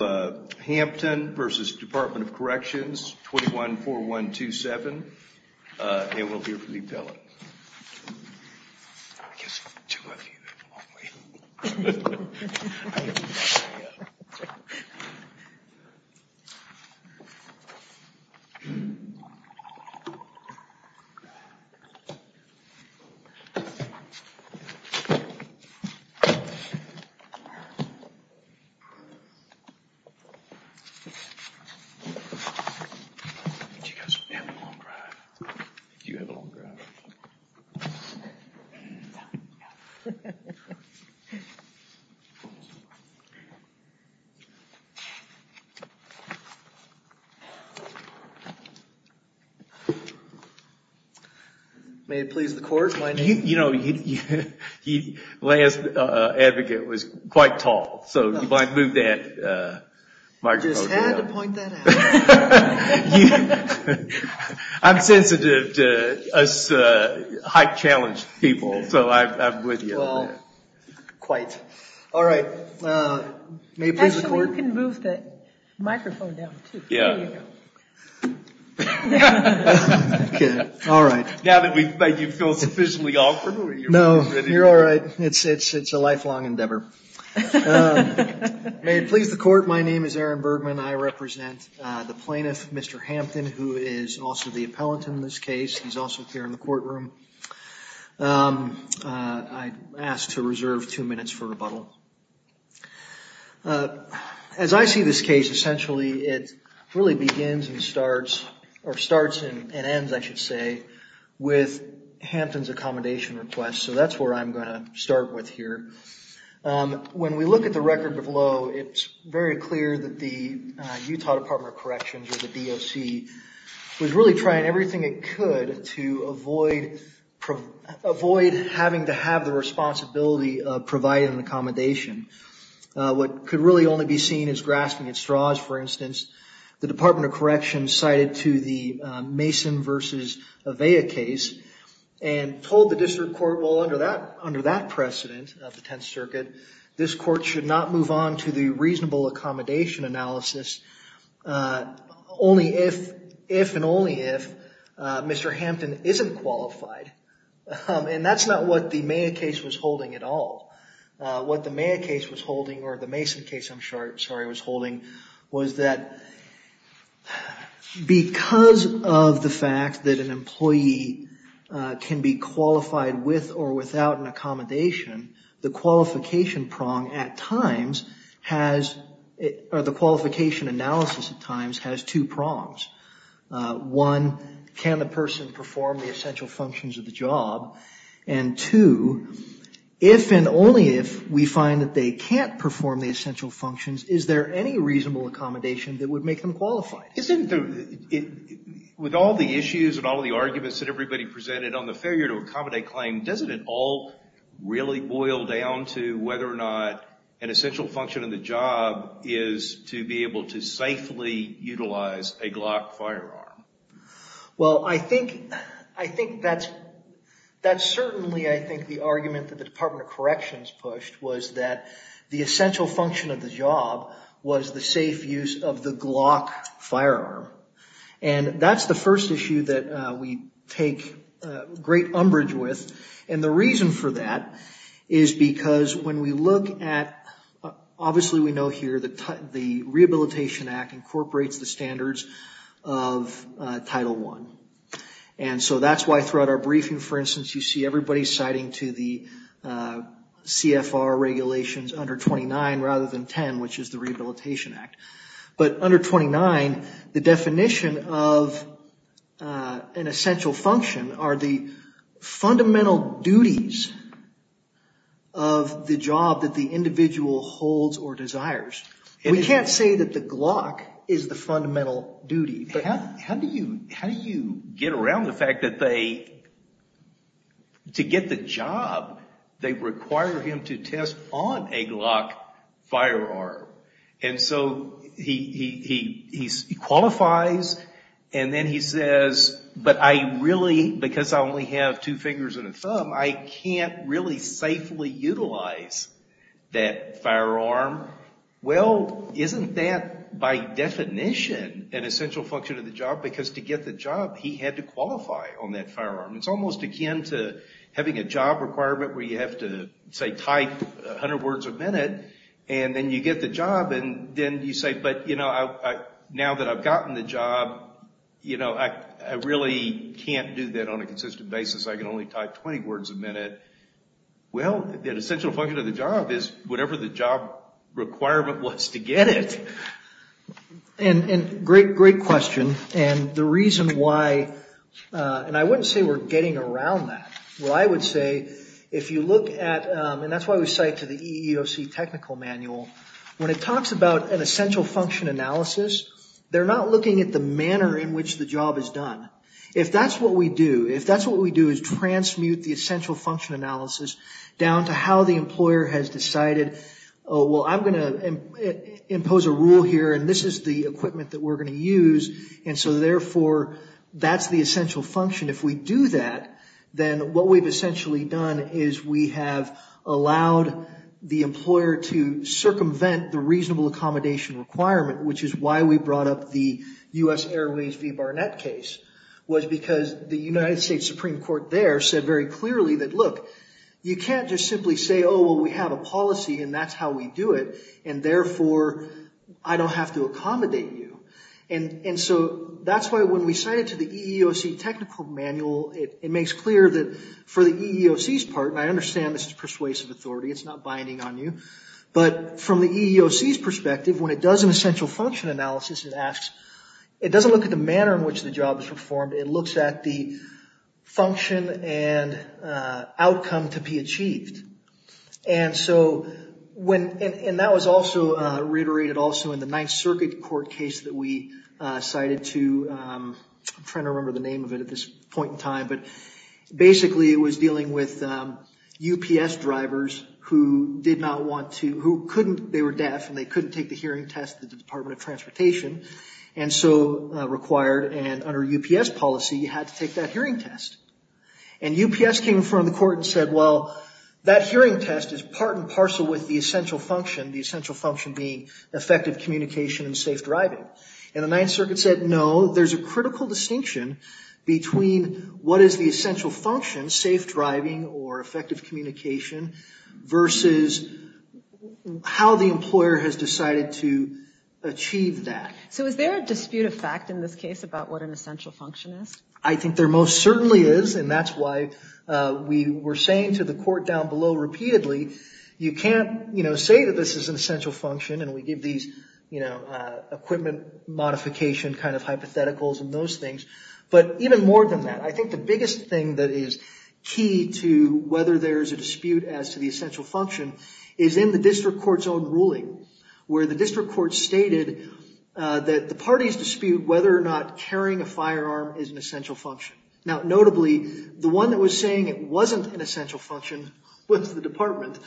21-4127 and we'll hear from the appellant. May it please the court. You know, the last advocate was quite tall. So if I move that microphone down. Just had to point that out. I'm sensitive to us high challenge people. So I'm with you on that. Well, quite. All right. May it please the court. Actually, you can move the microphone down too. Yeah. There you go. All right. Now that you feel sufficiently offered. No, you're all right. It's a lifelong endeavor. May it please the court. My name is Aaron Bergman. I represent the plaintiff, Mr. Hampton, who is also the appellant in this case. He's also here in the courtroom. I ask to reserve two minutes for rebuttal. As I see this case, essentially, it really begins and starts or starts and ends, I should say, with Hampton's accommodation request. So that's where I'm going to start with here. When we look at the record of low, it's very clear that the Utah Department of Corrections or the DOC was really trying everything it could to avoid having to have the responsibility of providing an accommodation. What could really only be seen as grasping at straws, for instance, the Department of Corrections cited to the Mason versus Avea case and told the district court, well, under that precedent of the Tenth Circuit, this court should not move on to the reasonable accommodation analysis only if and only if Mr. Hampton isn't qualified. And that's not what the Mayer case was holding at all. What the Mayer case was holding, or the Mason case, I'm sorry, was holding was that because of the fact that an employee can be qualified with or without an accommodation, the qualification analysis at times has two prongs. One, can the person perform the essential functions of the job? And two, if and only if we find that they can't perform the essential functions, is there any reasonable accommodation that would make them qualified? With all the issues and all the arguments that everybody presented on the failure to accommodate claim, doesn't it all really boil down to whether or not an essential function of the job is to be able to safely utilize a Glock firearm? Well, I think that's certainly, I think, the argument that the Department of Corrections pushed was that the essential function of the job was the safe use of the Glock firearm. And that's the first issue that we take great umbrage with. And the reason for that is because when we look at, obviously we know here the Rehabilitation Act incorporates the standards of Title I. And so that's why throughout our briefing, for instance, you see everybody citing to the CFR regulations under 29 rather than 10, which is the Rehabilitation Act. But under 29, the definition of an essential function are the fundamental duties of the job that the individual holds or desires. We can't say that the Glock is the fundamental duty, but how do you get around the fact that they, to get the job, they require him to test on a Glock firearm? And so he qualifies and then he says, but I really, because I only have two words a minute. Well, isn't that by definition an essential function of the job? Because to get the job, he had to qualify on that firearm. It's almost akin to having a job requirement where you have to, say, type 100 words a minute and then you get the job and then you say, but, you know, now that I've gotten the job, you know, I really can't do that on a consistent basis. I can only type 20 words a minute. Well, an essential function of the job is whatever the job requirement was to get it. And great, great question. And the reason why, and I wouldn't say we're getting around that. Well, I would say if you look at, and that's why we cite to the EEOC technical manual, when it talks about an essential function analysis, they're not looking at the manner in which the job is done. If that's what we do, if that's what we do is transmute the essential function analysis down to how the employer has decided, oh, well, I'm going to impose a rule here, and this is the equipment that we're going to use, and so, therefore, that's the essential function. If we do that, then what we've essentially done is we have allowed the employer to circumvent the reasonable accommodation requirement, which is why we brought up the U.S. Airways v. Barnett case, was because the United States Supreme Court there said very clearly that look, you can't just simply say, oh, well, we have a policy, and that's how we do it, and, therefore, I don't have to accommodate you. And so that's why when we cite it to the EEOC technical manual, it makes clear that for the EEOC's part, and I understand this is persuasive authority, it's not binding on you, but from the EEOC's perspective, when it does an essential function analysis, it asks, it doesn't look at the manner in which the job is performed, it looks at the function and outcome to be achieved. And so when, and that was also reiterated also in the Ninth Circuit court case that we cited to, I'm trying to remember the name of it at this point in time, but basically it was dealing with UPS drivers who did not want to, who couldn't, they were deaf and they couldn't take the hearing test at the Department of Transportation, and so required, and under UPS policy, you had to take that hearing test. And UPS came in front of the court and said, well, that hearing test is part and parcel with the essential function, the essential function being effective communication and safe driving. And the Ninth Circuit said, no, there's a critical distinction between what is the essential function, safe driving or effective communication, versus how the employer has decided to achieve that. So is there a dispute of fact in this case about what an essential function is? I think there most certainly is, and that's why we were saying to the court down below repeatedly, you can't say that this is an essential function and we give these equipment modification kind of hypotheticals and those things, but even more than that, I think the biggest thing that is key to whether there's a dispute as to the essential function is in the district court's own ruling, where the district court stated that the parties dispute whether or not carrying a firearm is an essential function. Now, notably, the one that was saying it wasn't an essential function was the department.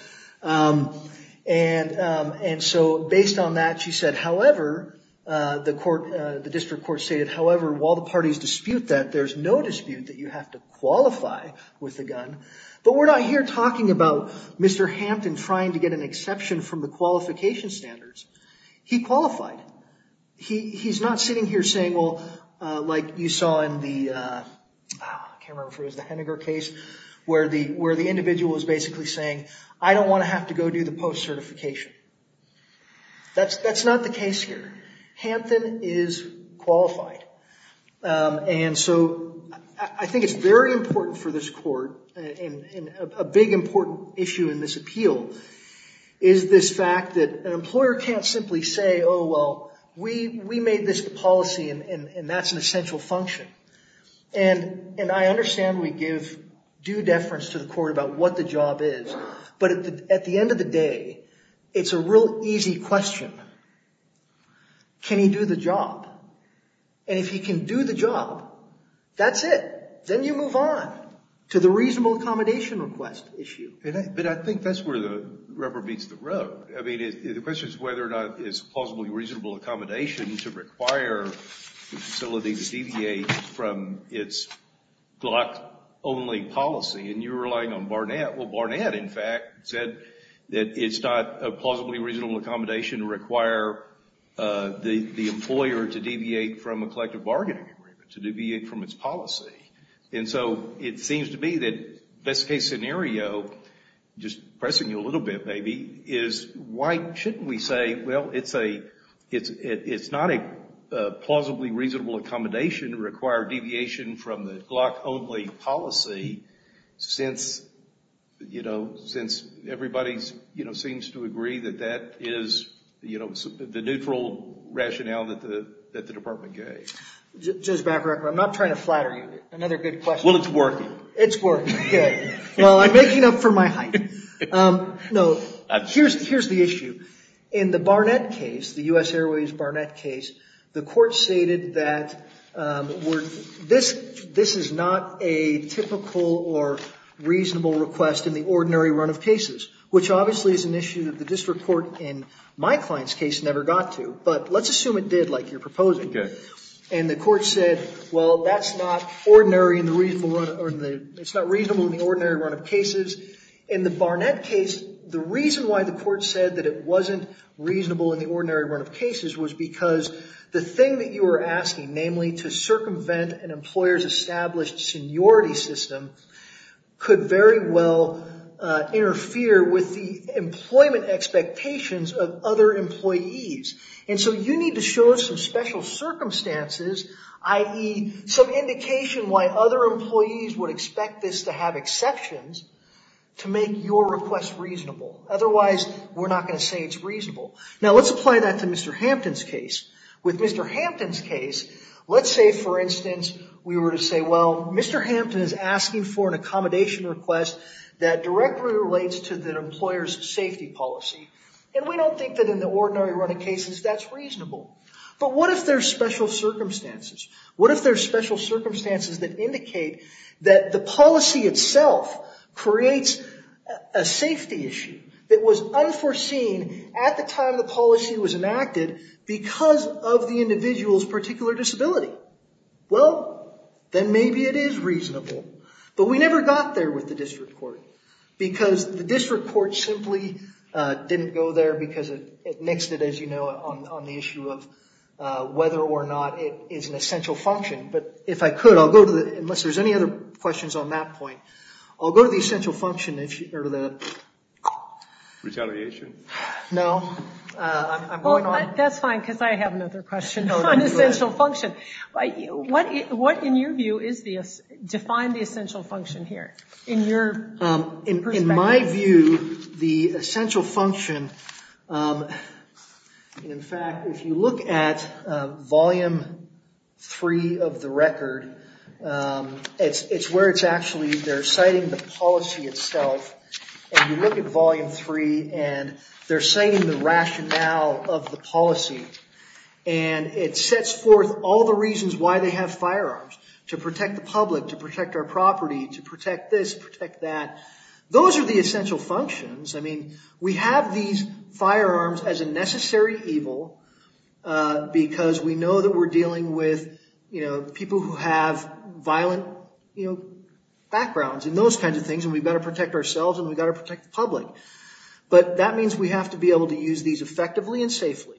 And so based on that, she said, however, the district court stated, however, while the parties dispute that, there's no dispute that you have to qualify with the gun. But we're not here talking about Mr. Hampton trying to get an exception from the qualification standards. He qualified. He's not sitting here saying, well, like you saw in the, I can't remember if it was the Henniger case, where the individual was basically saying, I don't want to have to go do the post-certification. That's not the case here. Hampton is qualified. And so I think it's very important for this court, and a big important issue in this appeal, is this fact that an employer can't simply say, oh, well, we made this policy, and that's an essential function. And I understand we give due deference to the court about what the job is. But at the end of the day, it's a real easy question. Can he do the job? And if he can do the job, that's it. Then you move on to the reasonable accommodation request issue. But I think that's where the rubber meets the road. I mean, the question is whether or not it's plausibly reasonable accommodation to require the facility to deviate from its Glock-only policy, and you're relying on Barnett. Well, Barnett, in fact, said that it's not a plausibly reasonable accommodation to require the employer to deviate from a collective bargaining agreement, to deviate from its policy. And so it seems to me that best-case scenario, just pressing you a little bit maybe, is why shouldn't we say, well, it's not a plausibly reasonable accommodation to require deviation from the Glock-only policy since, you know, everybody seems to agree that that is, you know, the neutral rationale that the department gave? Judge Bacarach, I'm not trying to flatter you. Another good question. Well, it's working. It's working. Good. Well, I'm making up for my height. No, here's the issue. In the Barnett case, the U.S. Airways Barnett case, the court stated that this is not a typical or reasonable request in the ordinary run of cases, which obviously is an issue that the district court in my client's case never got to. But let's assume it did, like you're proposing. Okay. And the court said, well, that's not ordinary in the reasonable run of the – it's not reasonable in the ordinary run of cases. In the Barnett case, the reason why the court said that it wasn't reasonable in the ordinary run of cases was because the thing that you were asking, namely to circumvent an employer's established seniority system, could very well interfere with the employment expectations of other employees. And so you need to show us some special circumstances, i.e., some indication why other employees would expect this to have exceptions, to make your request reasonable. Otherwise, we're not going to say it's reasonable. Now, let's apply that to Mr. Hampton's case. With Mr. Hampton's case, let's say, for instance, we were to say, well, Mr. Hampton is asking for an accommodation request that directly relates to the employer's safety policy, and we don't think that in the ordinary run of cases that's reasonable. But what if there's special circumstances? What if there's special circumstances that indicate that the policy itself creates a safety issue that was unforeseen at the time the policy was enacted because of the individual's particular disability? Well, then maybe it is reasonable. But we never got there with the district court, because the district court simply didn't go there because it nixed it, as you know, on the issue of whether or not it is an essential function. But if I could, I'll go to the ‑‑ unless there's any other questions on that point, I'll go to the essential function issue, or the ‑‑ Retaliation? No. I'm going on. Well, that's fine, because I have another question on essential function. What, in your view, define the essential function here in your perspective? In my view, the essential function, in fact, if you look at volume three of the record, it's where it's actually they're citing the policy itself. And you look at volume three, and they're citing the rationale of the policy. And it sets forth all the reasons why they have firearms, to protect the public, to protect our property, to protect this, protect that. Those are the essential functions. I mean, we have these firearms as a necessary evil, because we know that we're dealing with, you know, people who have violent, you know, backgrounds and those kinds of things, and we've got to protect ourselves, and we've got to protect the public. But that means we have to be able to use these effectively and safely.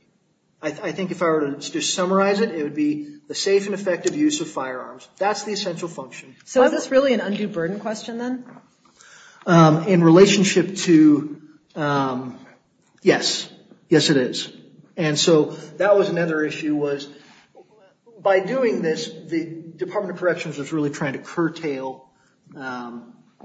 I think if I were to just summarize it, it would be the safe and effective use of firearms. That's the essential function. So is this really an undue burden question then? In relationship to, yes. Yes, it is. And so that was another issue was, by doing this, the Department of Corrections was really trying to curtail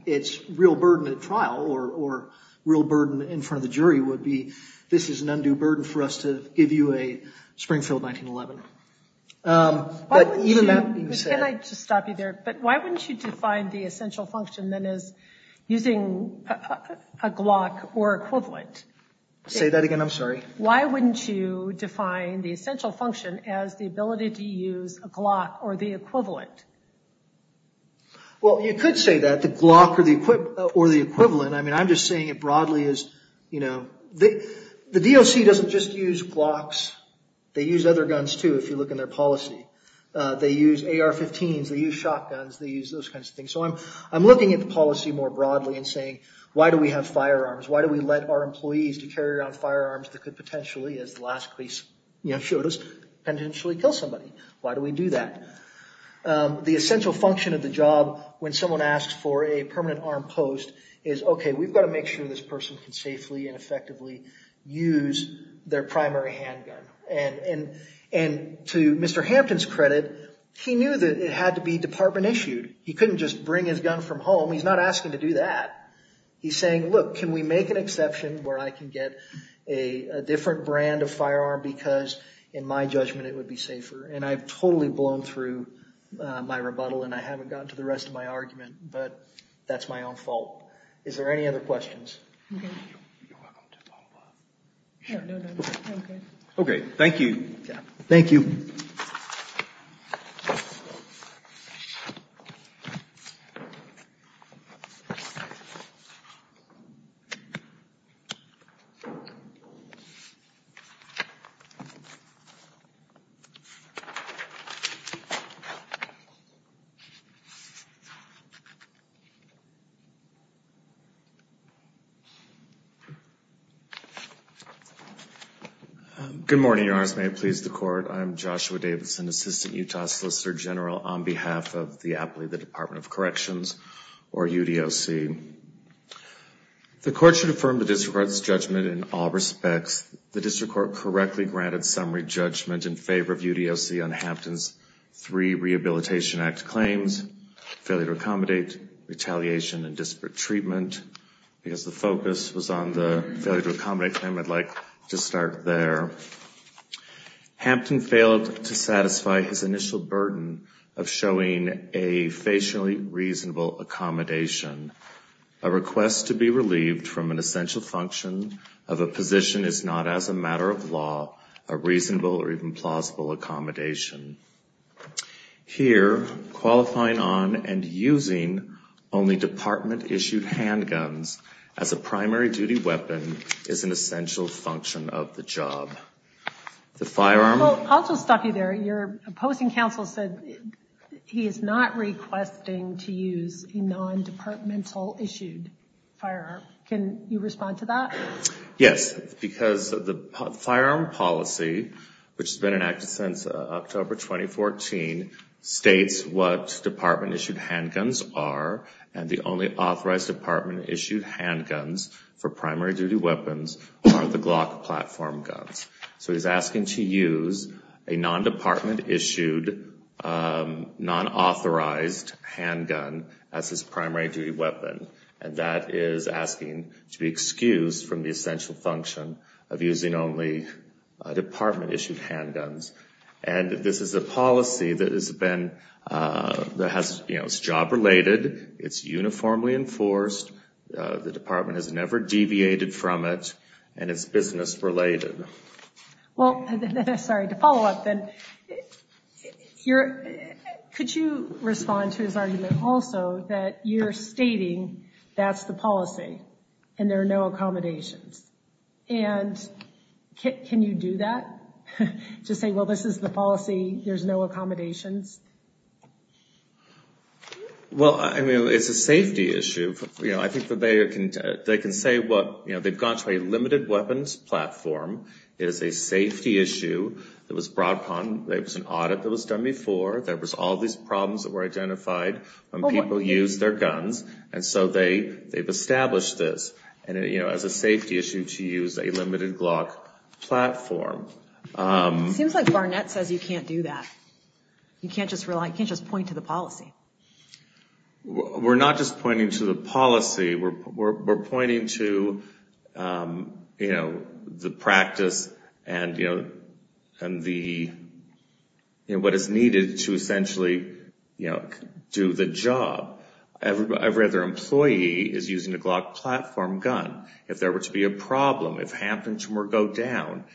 its real burden at trial, or real burden in front of the jury would be, this is an undue burden for us to give you a Springfield 1911. Can I just stop you there? But why wouldn't you define the essential function then as using a Glock or equivalent? Say that again. I'm sorry. Why wouldn't you define the essential function as the ability to use a Glock or the equivalent? Well, you could say that, the Glock or the equivalent. I mean, I'm just saying it broadly as, you know, the DOC doesn't just use Glocks. They use other guns, too, if you look in their policy. They use AR-15s. They use shotguns. They use those kinds of things. So I'm looking at the policy more broadly and saying, why do we have firearms? Why do we let our employees to carry around firearms that could potentially, as the last case showed us, potentially kill somebody? Why do we do that? The essential function of the job when someone asks for a permanent arm post is, okay, we've got to make sure this person can safely and effectively use their primary handgun. And to Mr. Hampton's credit, he knew that it had to be department issued. He couldn't just bring his gun from home. He's not asking to do that. He's saying, look, can we make an exception where I can get a different brand of firearm because in my judgment it would be safer? And I've totally blown through my rebuttal, and I haven't gotten to the rest of my argument, but that's my own fault. Is there any other questions? You're welcome to follow up. No, no, no. Okay. Okay, thank you. Thank you. Thank you. Good morning, Your Honors. May it please the Court. I'm Joshua Davidson, Assistant Utah Solicitor General, on behalf of the appellee of the Department of Corrections, or UDOC. The Court should affirm the district court's judgment in all respects. The district court correctly granted summary judgment in favor of UDOC on Hampton's three Rehabilitation Act claims, failure to accommodate, retaliation, and disparate treatment. Because the focus was on the failure to accommodate claim, I'd like to start there. Hampton failed to satisfy his initial burden of showing a facially reasonable accommodation. A request to be relieved from an essential function of a position is not, as a matter of law, a reasonable or even plausible accommodation. Here, qualifying on and using only department-issued handguns as a primary duty weapon is an essential function of the job. I'll just stop you there. Your opposing counsel said he is not requesting to use a non-departmental issued firearm. Can you respond to that? Yes, because the firearm policy, which has been enacted since October 2014, states what department-issued handguns are, and the only authorized department-issued handguns for primary duty weapons are the Glock platform guns. So he's asking to use a non-department-issued, non-authorized handgun as his primary duty weapon, and that is asking to be excused from the essential function of using only department-issued handguns. And this is a policy that has been job-related, it's uniformly enforced, the department has never deviated from it, and it's business-related. Well, sorry, to follow up then, could you respond to his argument also that you're stating that's the policy and there are no accommodations? And can you do that? Just say, well, this is the policy, there's no accommodations? Well, I mean, it's a safety issue. You know, I think that they can say what, you know, they've gone to a limited weapons platform, it is a safety issue, it was brought upon, there was an audit that was done before, there was all these problems that were identified when people used their guns, and so they've established this, you know, as a safety issue to use a limited Glock platform. It seems like Barnett says you can't do that. You can't just rely, you can't just point to the policy. We're not just pointing to the policy, we're pointing to, you know, the practice and the, you know, what is needed to essentially, you know, do the job. Every other employee is using a Glock platform gun. If there were to be a problem, if Hampton were to go down,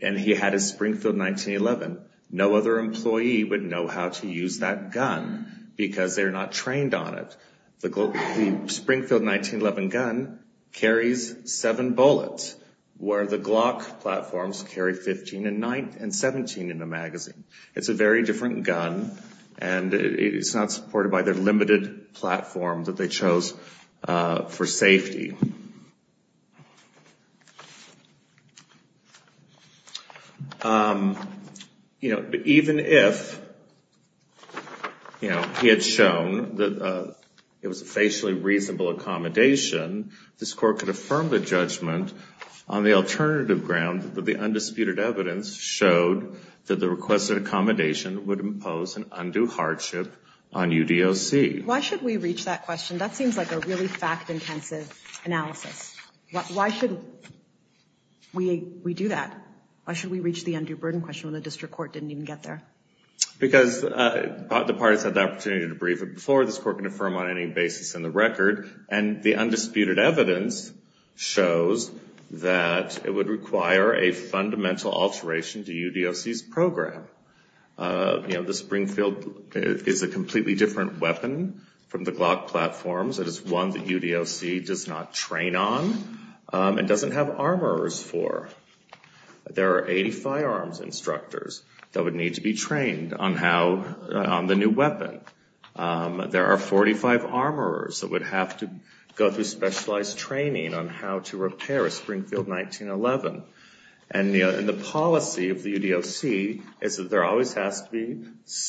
and he had a Springfield 1911, no other employee would know how to use that gun because they're not trained on it. The Springfield 1911 gun carries seven bullets, where the Glock platforms carry 15 and 17 in the magazine. It's a very different gun, and it's not supported by the limited platform that they chose for safety. You know, even if, you know, he had shown that it was a facially reasonable accommodation, this Court could affirm the judgment on the alternative ground that the undisputed evidence showed that the requested accommodation would impose an undue hardship on UDOC. Why should we reach that question? That seems like a really fact-intensive analysis. Why should we do that? Why should we reach the undue burden question when the district court didn't even get there? Because the parties had the opportunity to brief it before this Court could affirm on any basis in the record, and the undisputed evidence shows that it would require a fundamental alteration to UDOC's program. You know, the Springfield is a completely different weapon from the Glock platforms. It is one that UDOC does not train on and doesn't have armorers for. There are 80 firearms instructors that would need to be trained on the new weapon. There are 45 armorers that would have to go through specialized training on how to repair a Springfield 1911. And the policy of the UDOC is that there always has to be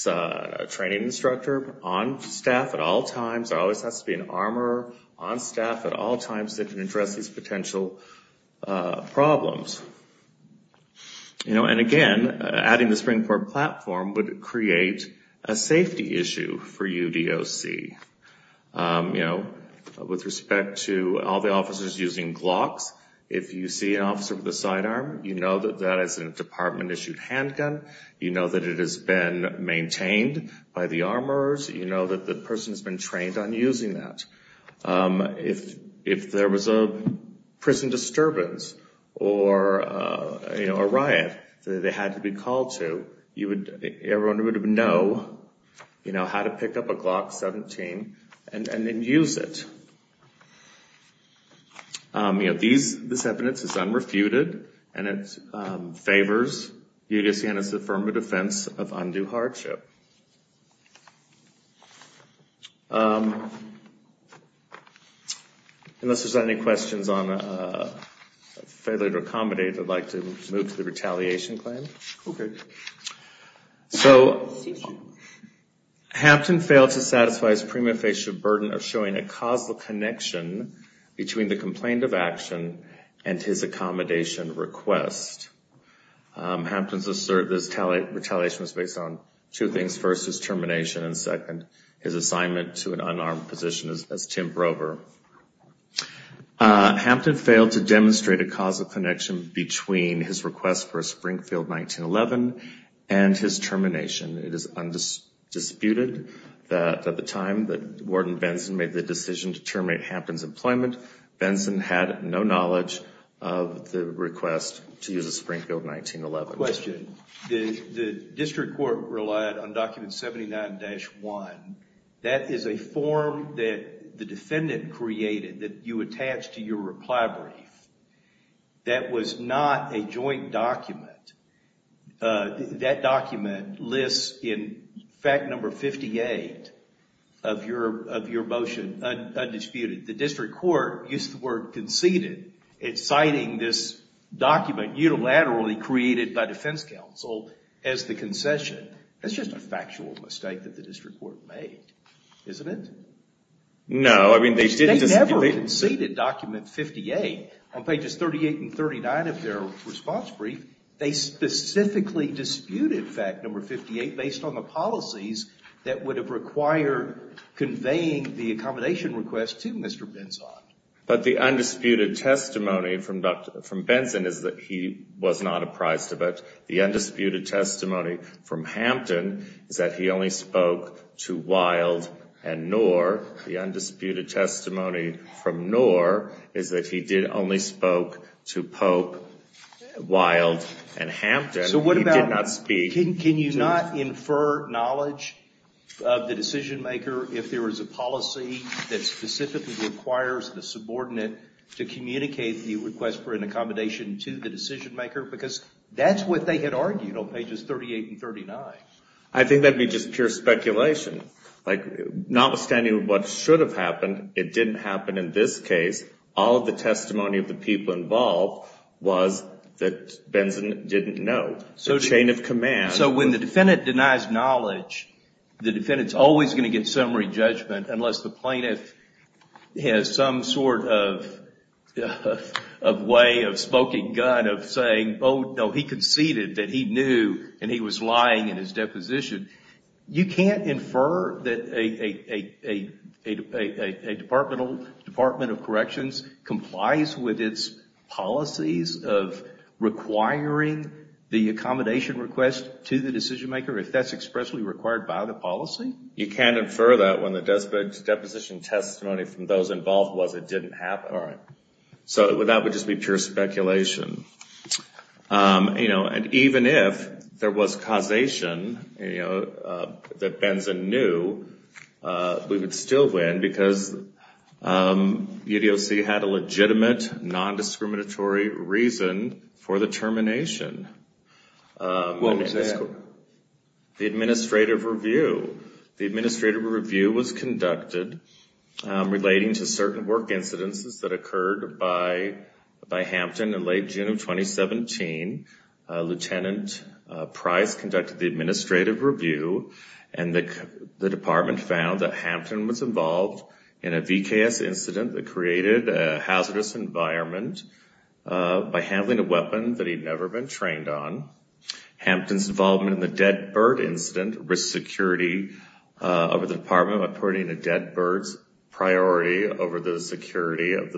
a training instructor on staff at all times. There always has to be an armorer on staff at all times that can address these potential problems. And again, adding the Springfield platform would create a safety issue for UDOC. With respect to all the officers using Glocks, if you see an officer with a sidearm, you know that that is a department-issued handgun. You know that it has been maintained by the armorers. You know that the person has been trained on using that. If there was a prison disturbance or a riot that they had to be called to, everyone would know how to pick up a Glock 17 and then use it. This evidence is unrefuted, and it favors UDOC and is the affirmative defense of undue hardship. Unless there are any questions on failure to accommodate, I would like to move to the retaliation claim. So, Hampton failed to satisfy his prima facie burden of showing a causal connection between the complaint of action and his accommodation request. Hampton's retaliation was based on two things. First, his termination, and second, his assignment to an unarmed position as temp rover. Hampton failed to demonstrate a causal connection between his request for a Springfield 1911 and his termination. It is undisputed that at the time that Warden Benson made the decision to terminate Hampton's employment, Benson had no knowledge of the request to use a Springfield 1911. Question. The district court relied on Document 79-1. That is a form that the defendant created that you attach to your reply brief. That was not a joint document. That document lists in fact number 58 of your motion undisputed. The district court used the word conceded in citing this document unilaterally created by defense counsel as the concession. That's just a factual mistake that the district court made, isn't it? No. They never conceded document 58. On pages 38 and 39 of their response brief, they specifically disputed fact number 58 based on the policies that would have required conveying the accommodation request to Mr. Benson. But the undisputed testimony from Benson is that he was not apprised of it. The undisputed testimony from Hampton is that he only spoke to Wilde and Knorr. The undisputed testimony from Knorr is that he did only spoke to Pope, Wilde, and Hampton. He did not speak to— So what about—can you not infer knowledge of the decision maker if there is a policy that specifically requires the subordinate to communicate the request for an accommodation to the decision maker? Because that's what they had argued on pages 38 and 39. I think that would be just pure speculation. Like, notwithstanding what should have happened, it didn't happen in this case. All of the testimony of the people involved was that Benson didn't know. The chain of command— So when the defendant denies knowledge, the defendant's always going to get summary judgment unless the plaintiff has some sort of way of smoking gun of saying, oh, no, he conceded that he knew and he was lying in his deposition. You can't infer that a department of corrections complies with its policies of requiring the accommodation request to the decision maker if that's expressly required by the policy? You can't infer that when the deposition testimony from those involved was it didn't happen. All right. So that would just be pure speculation. And even if there was causation that Benson knew, we would still win because UDOC had a legitimate, non-discriminatory reason for the termination. What was that? The administrative review. The administrative review was conducted relating to certain work incidences that occurred by Hampton in late June of 2017. Lieutenant Price conducted the administrative review, and the department found that Hampton was involved in a VKS incident that created a hazardous environment by handling a weapon that he'd never been trained on. Hampton's involvement in the dead bird incident risked security over the department by putting the dead bird's priority over the security of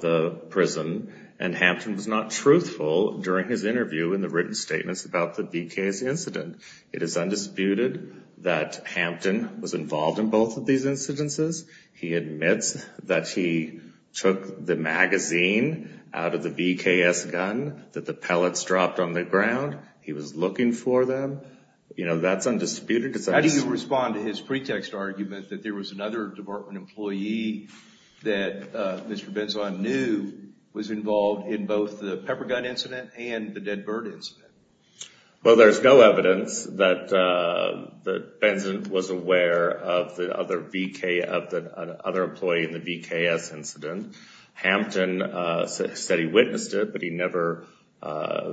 the prison, and Hampton was not truthful during his interview in the written statements about the VKS incident. It is undisputed that Hampton was involved in both of these incidences. He admits that he took the magazine out of the VKS gun that the pellets dropped on the ground. He was looking for them. You know, that's undisputed. How do you respond to his pretext argument that there was another department employee that Mr. Benson knew was involved in both the pepper gun incident and the dead bird incident? Well, there's no evidence that Benson was aware of the other employee in the VKS incident. Hampton said he witnessed it, but he never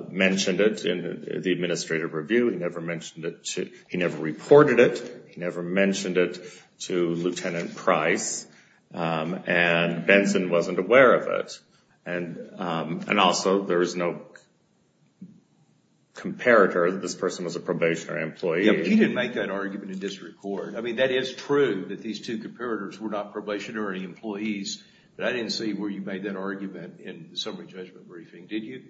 mentioned it in the administrative review. He never reported it. He never mentioned it to Lieutenant Price, and Benson wasn't aware of it. And also, there is no comparator that this person was a probationary employee. Yeah, but you didn't make that argument in district court. I mean, that is true that these two comparators were not probationary employees, but I didn't see where you made that argument in the summary judgment briefing, did you?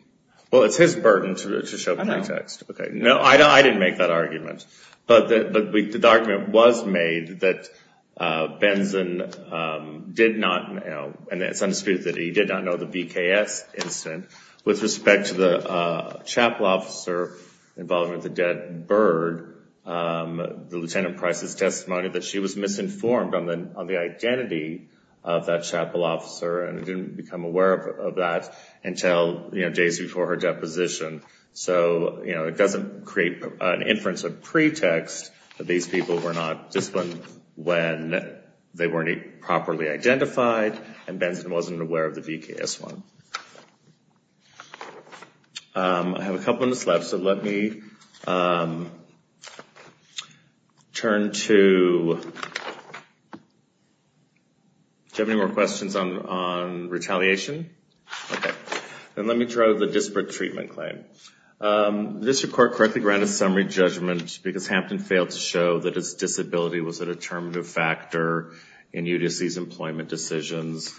Well, it's his burden to show pretext. No, I didn't make that argument. But the argument was made that Benson did not know, and it's undisputed that he did not know the VKS incident. With respect to the chapel officer involved with the dead bird, the Lieutenant Price's testimony that she was misinformed on the identity of that chapel officer and didn't become aware of that until days before her deposition. So, you know, it doesn't create an inference of pretext that these people were not disciplined when they weren't properly identified, and Benson wasn't aware of the VKS one. I have a couple of minutes left, so let me turn to... Do you have any more questions on retaliation? Okay. Then let me try the disparate treatment claim. The district court correctly granted summary judgment because Hampton failed to show that his disability was a determinative factor in UDOC's employment decisions.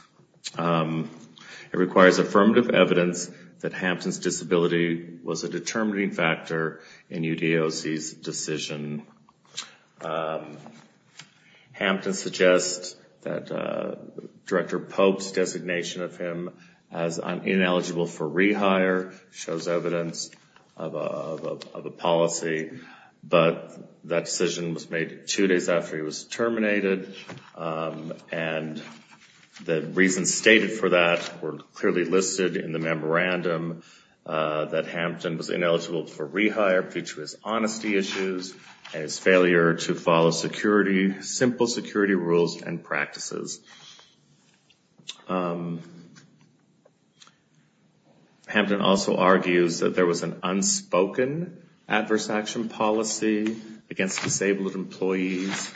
It requires affirmative evidence that Hampton's disability was a determining factor in UDOC's decision. Hampton suggests that Director Pope's designation of him as ineligible for rehire shows evidence of a policy, but that decision was made two days after he was terminated, and the reasons stated for that were clearly listed in the memorandum that Hampton was ineligible for rehire due to his honesty issues and his failure to follow simple security rules and practices. Hampton also argues that there was an unspoken adverse action policy against disabled employees,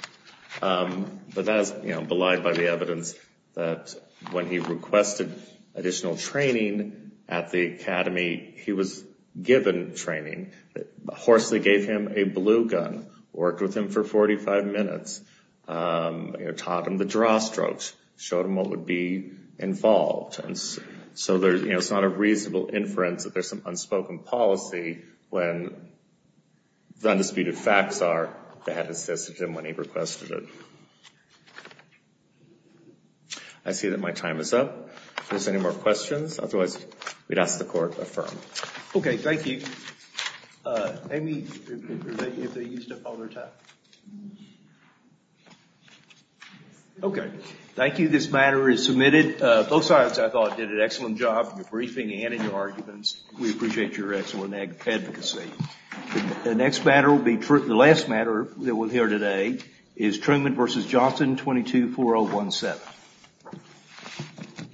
but that is belied by the evidence that when he requested additional training at the academy, he was given training. Horsley gave him a blue gun, worked with him for 45 minutes, taught him the draw strokes, showed him what would be involved. So it's not a reasonable inference that there's some unspoken policy when the undisputed facts are that it assisted him when he requested it. I see that my time is up. If there's any more questions, otherwise we'd ask the court to affirm. Okay, thank you. Amy, if they used up all their time. Okay, thank you. This matter is submitted. Both sides, I thought, did an excellent job in your briefing and in your arguments. We appreciate your excellent advocacy. The last matter that we'll hear today is Truman v. Johnson, 22-4017.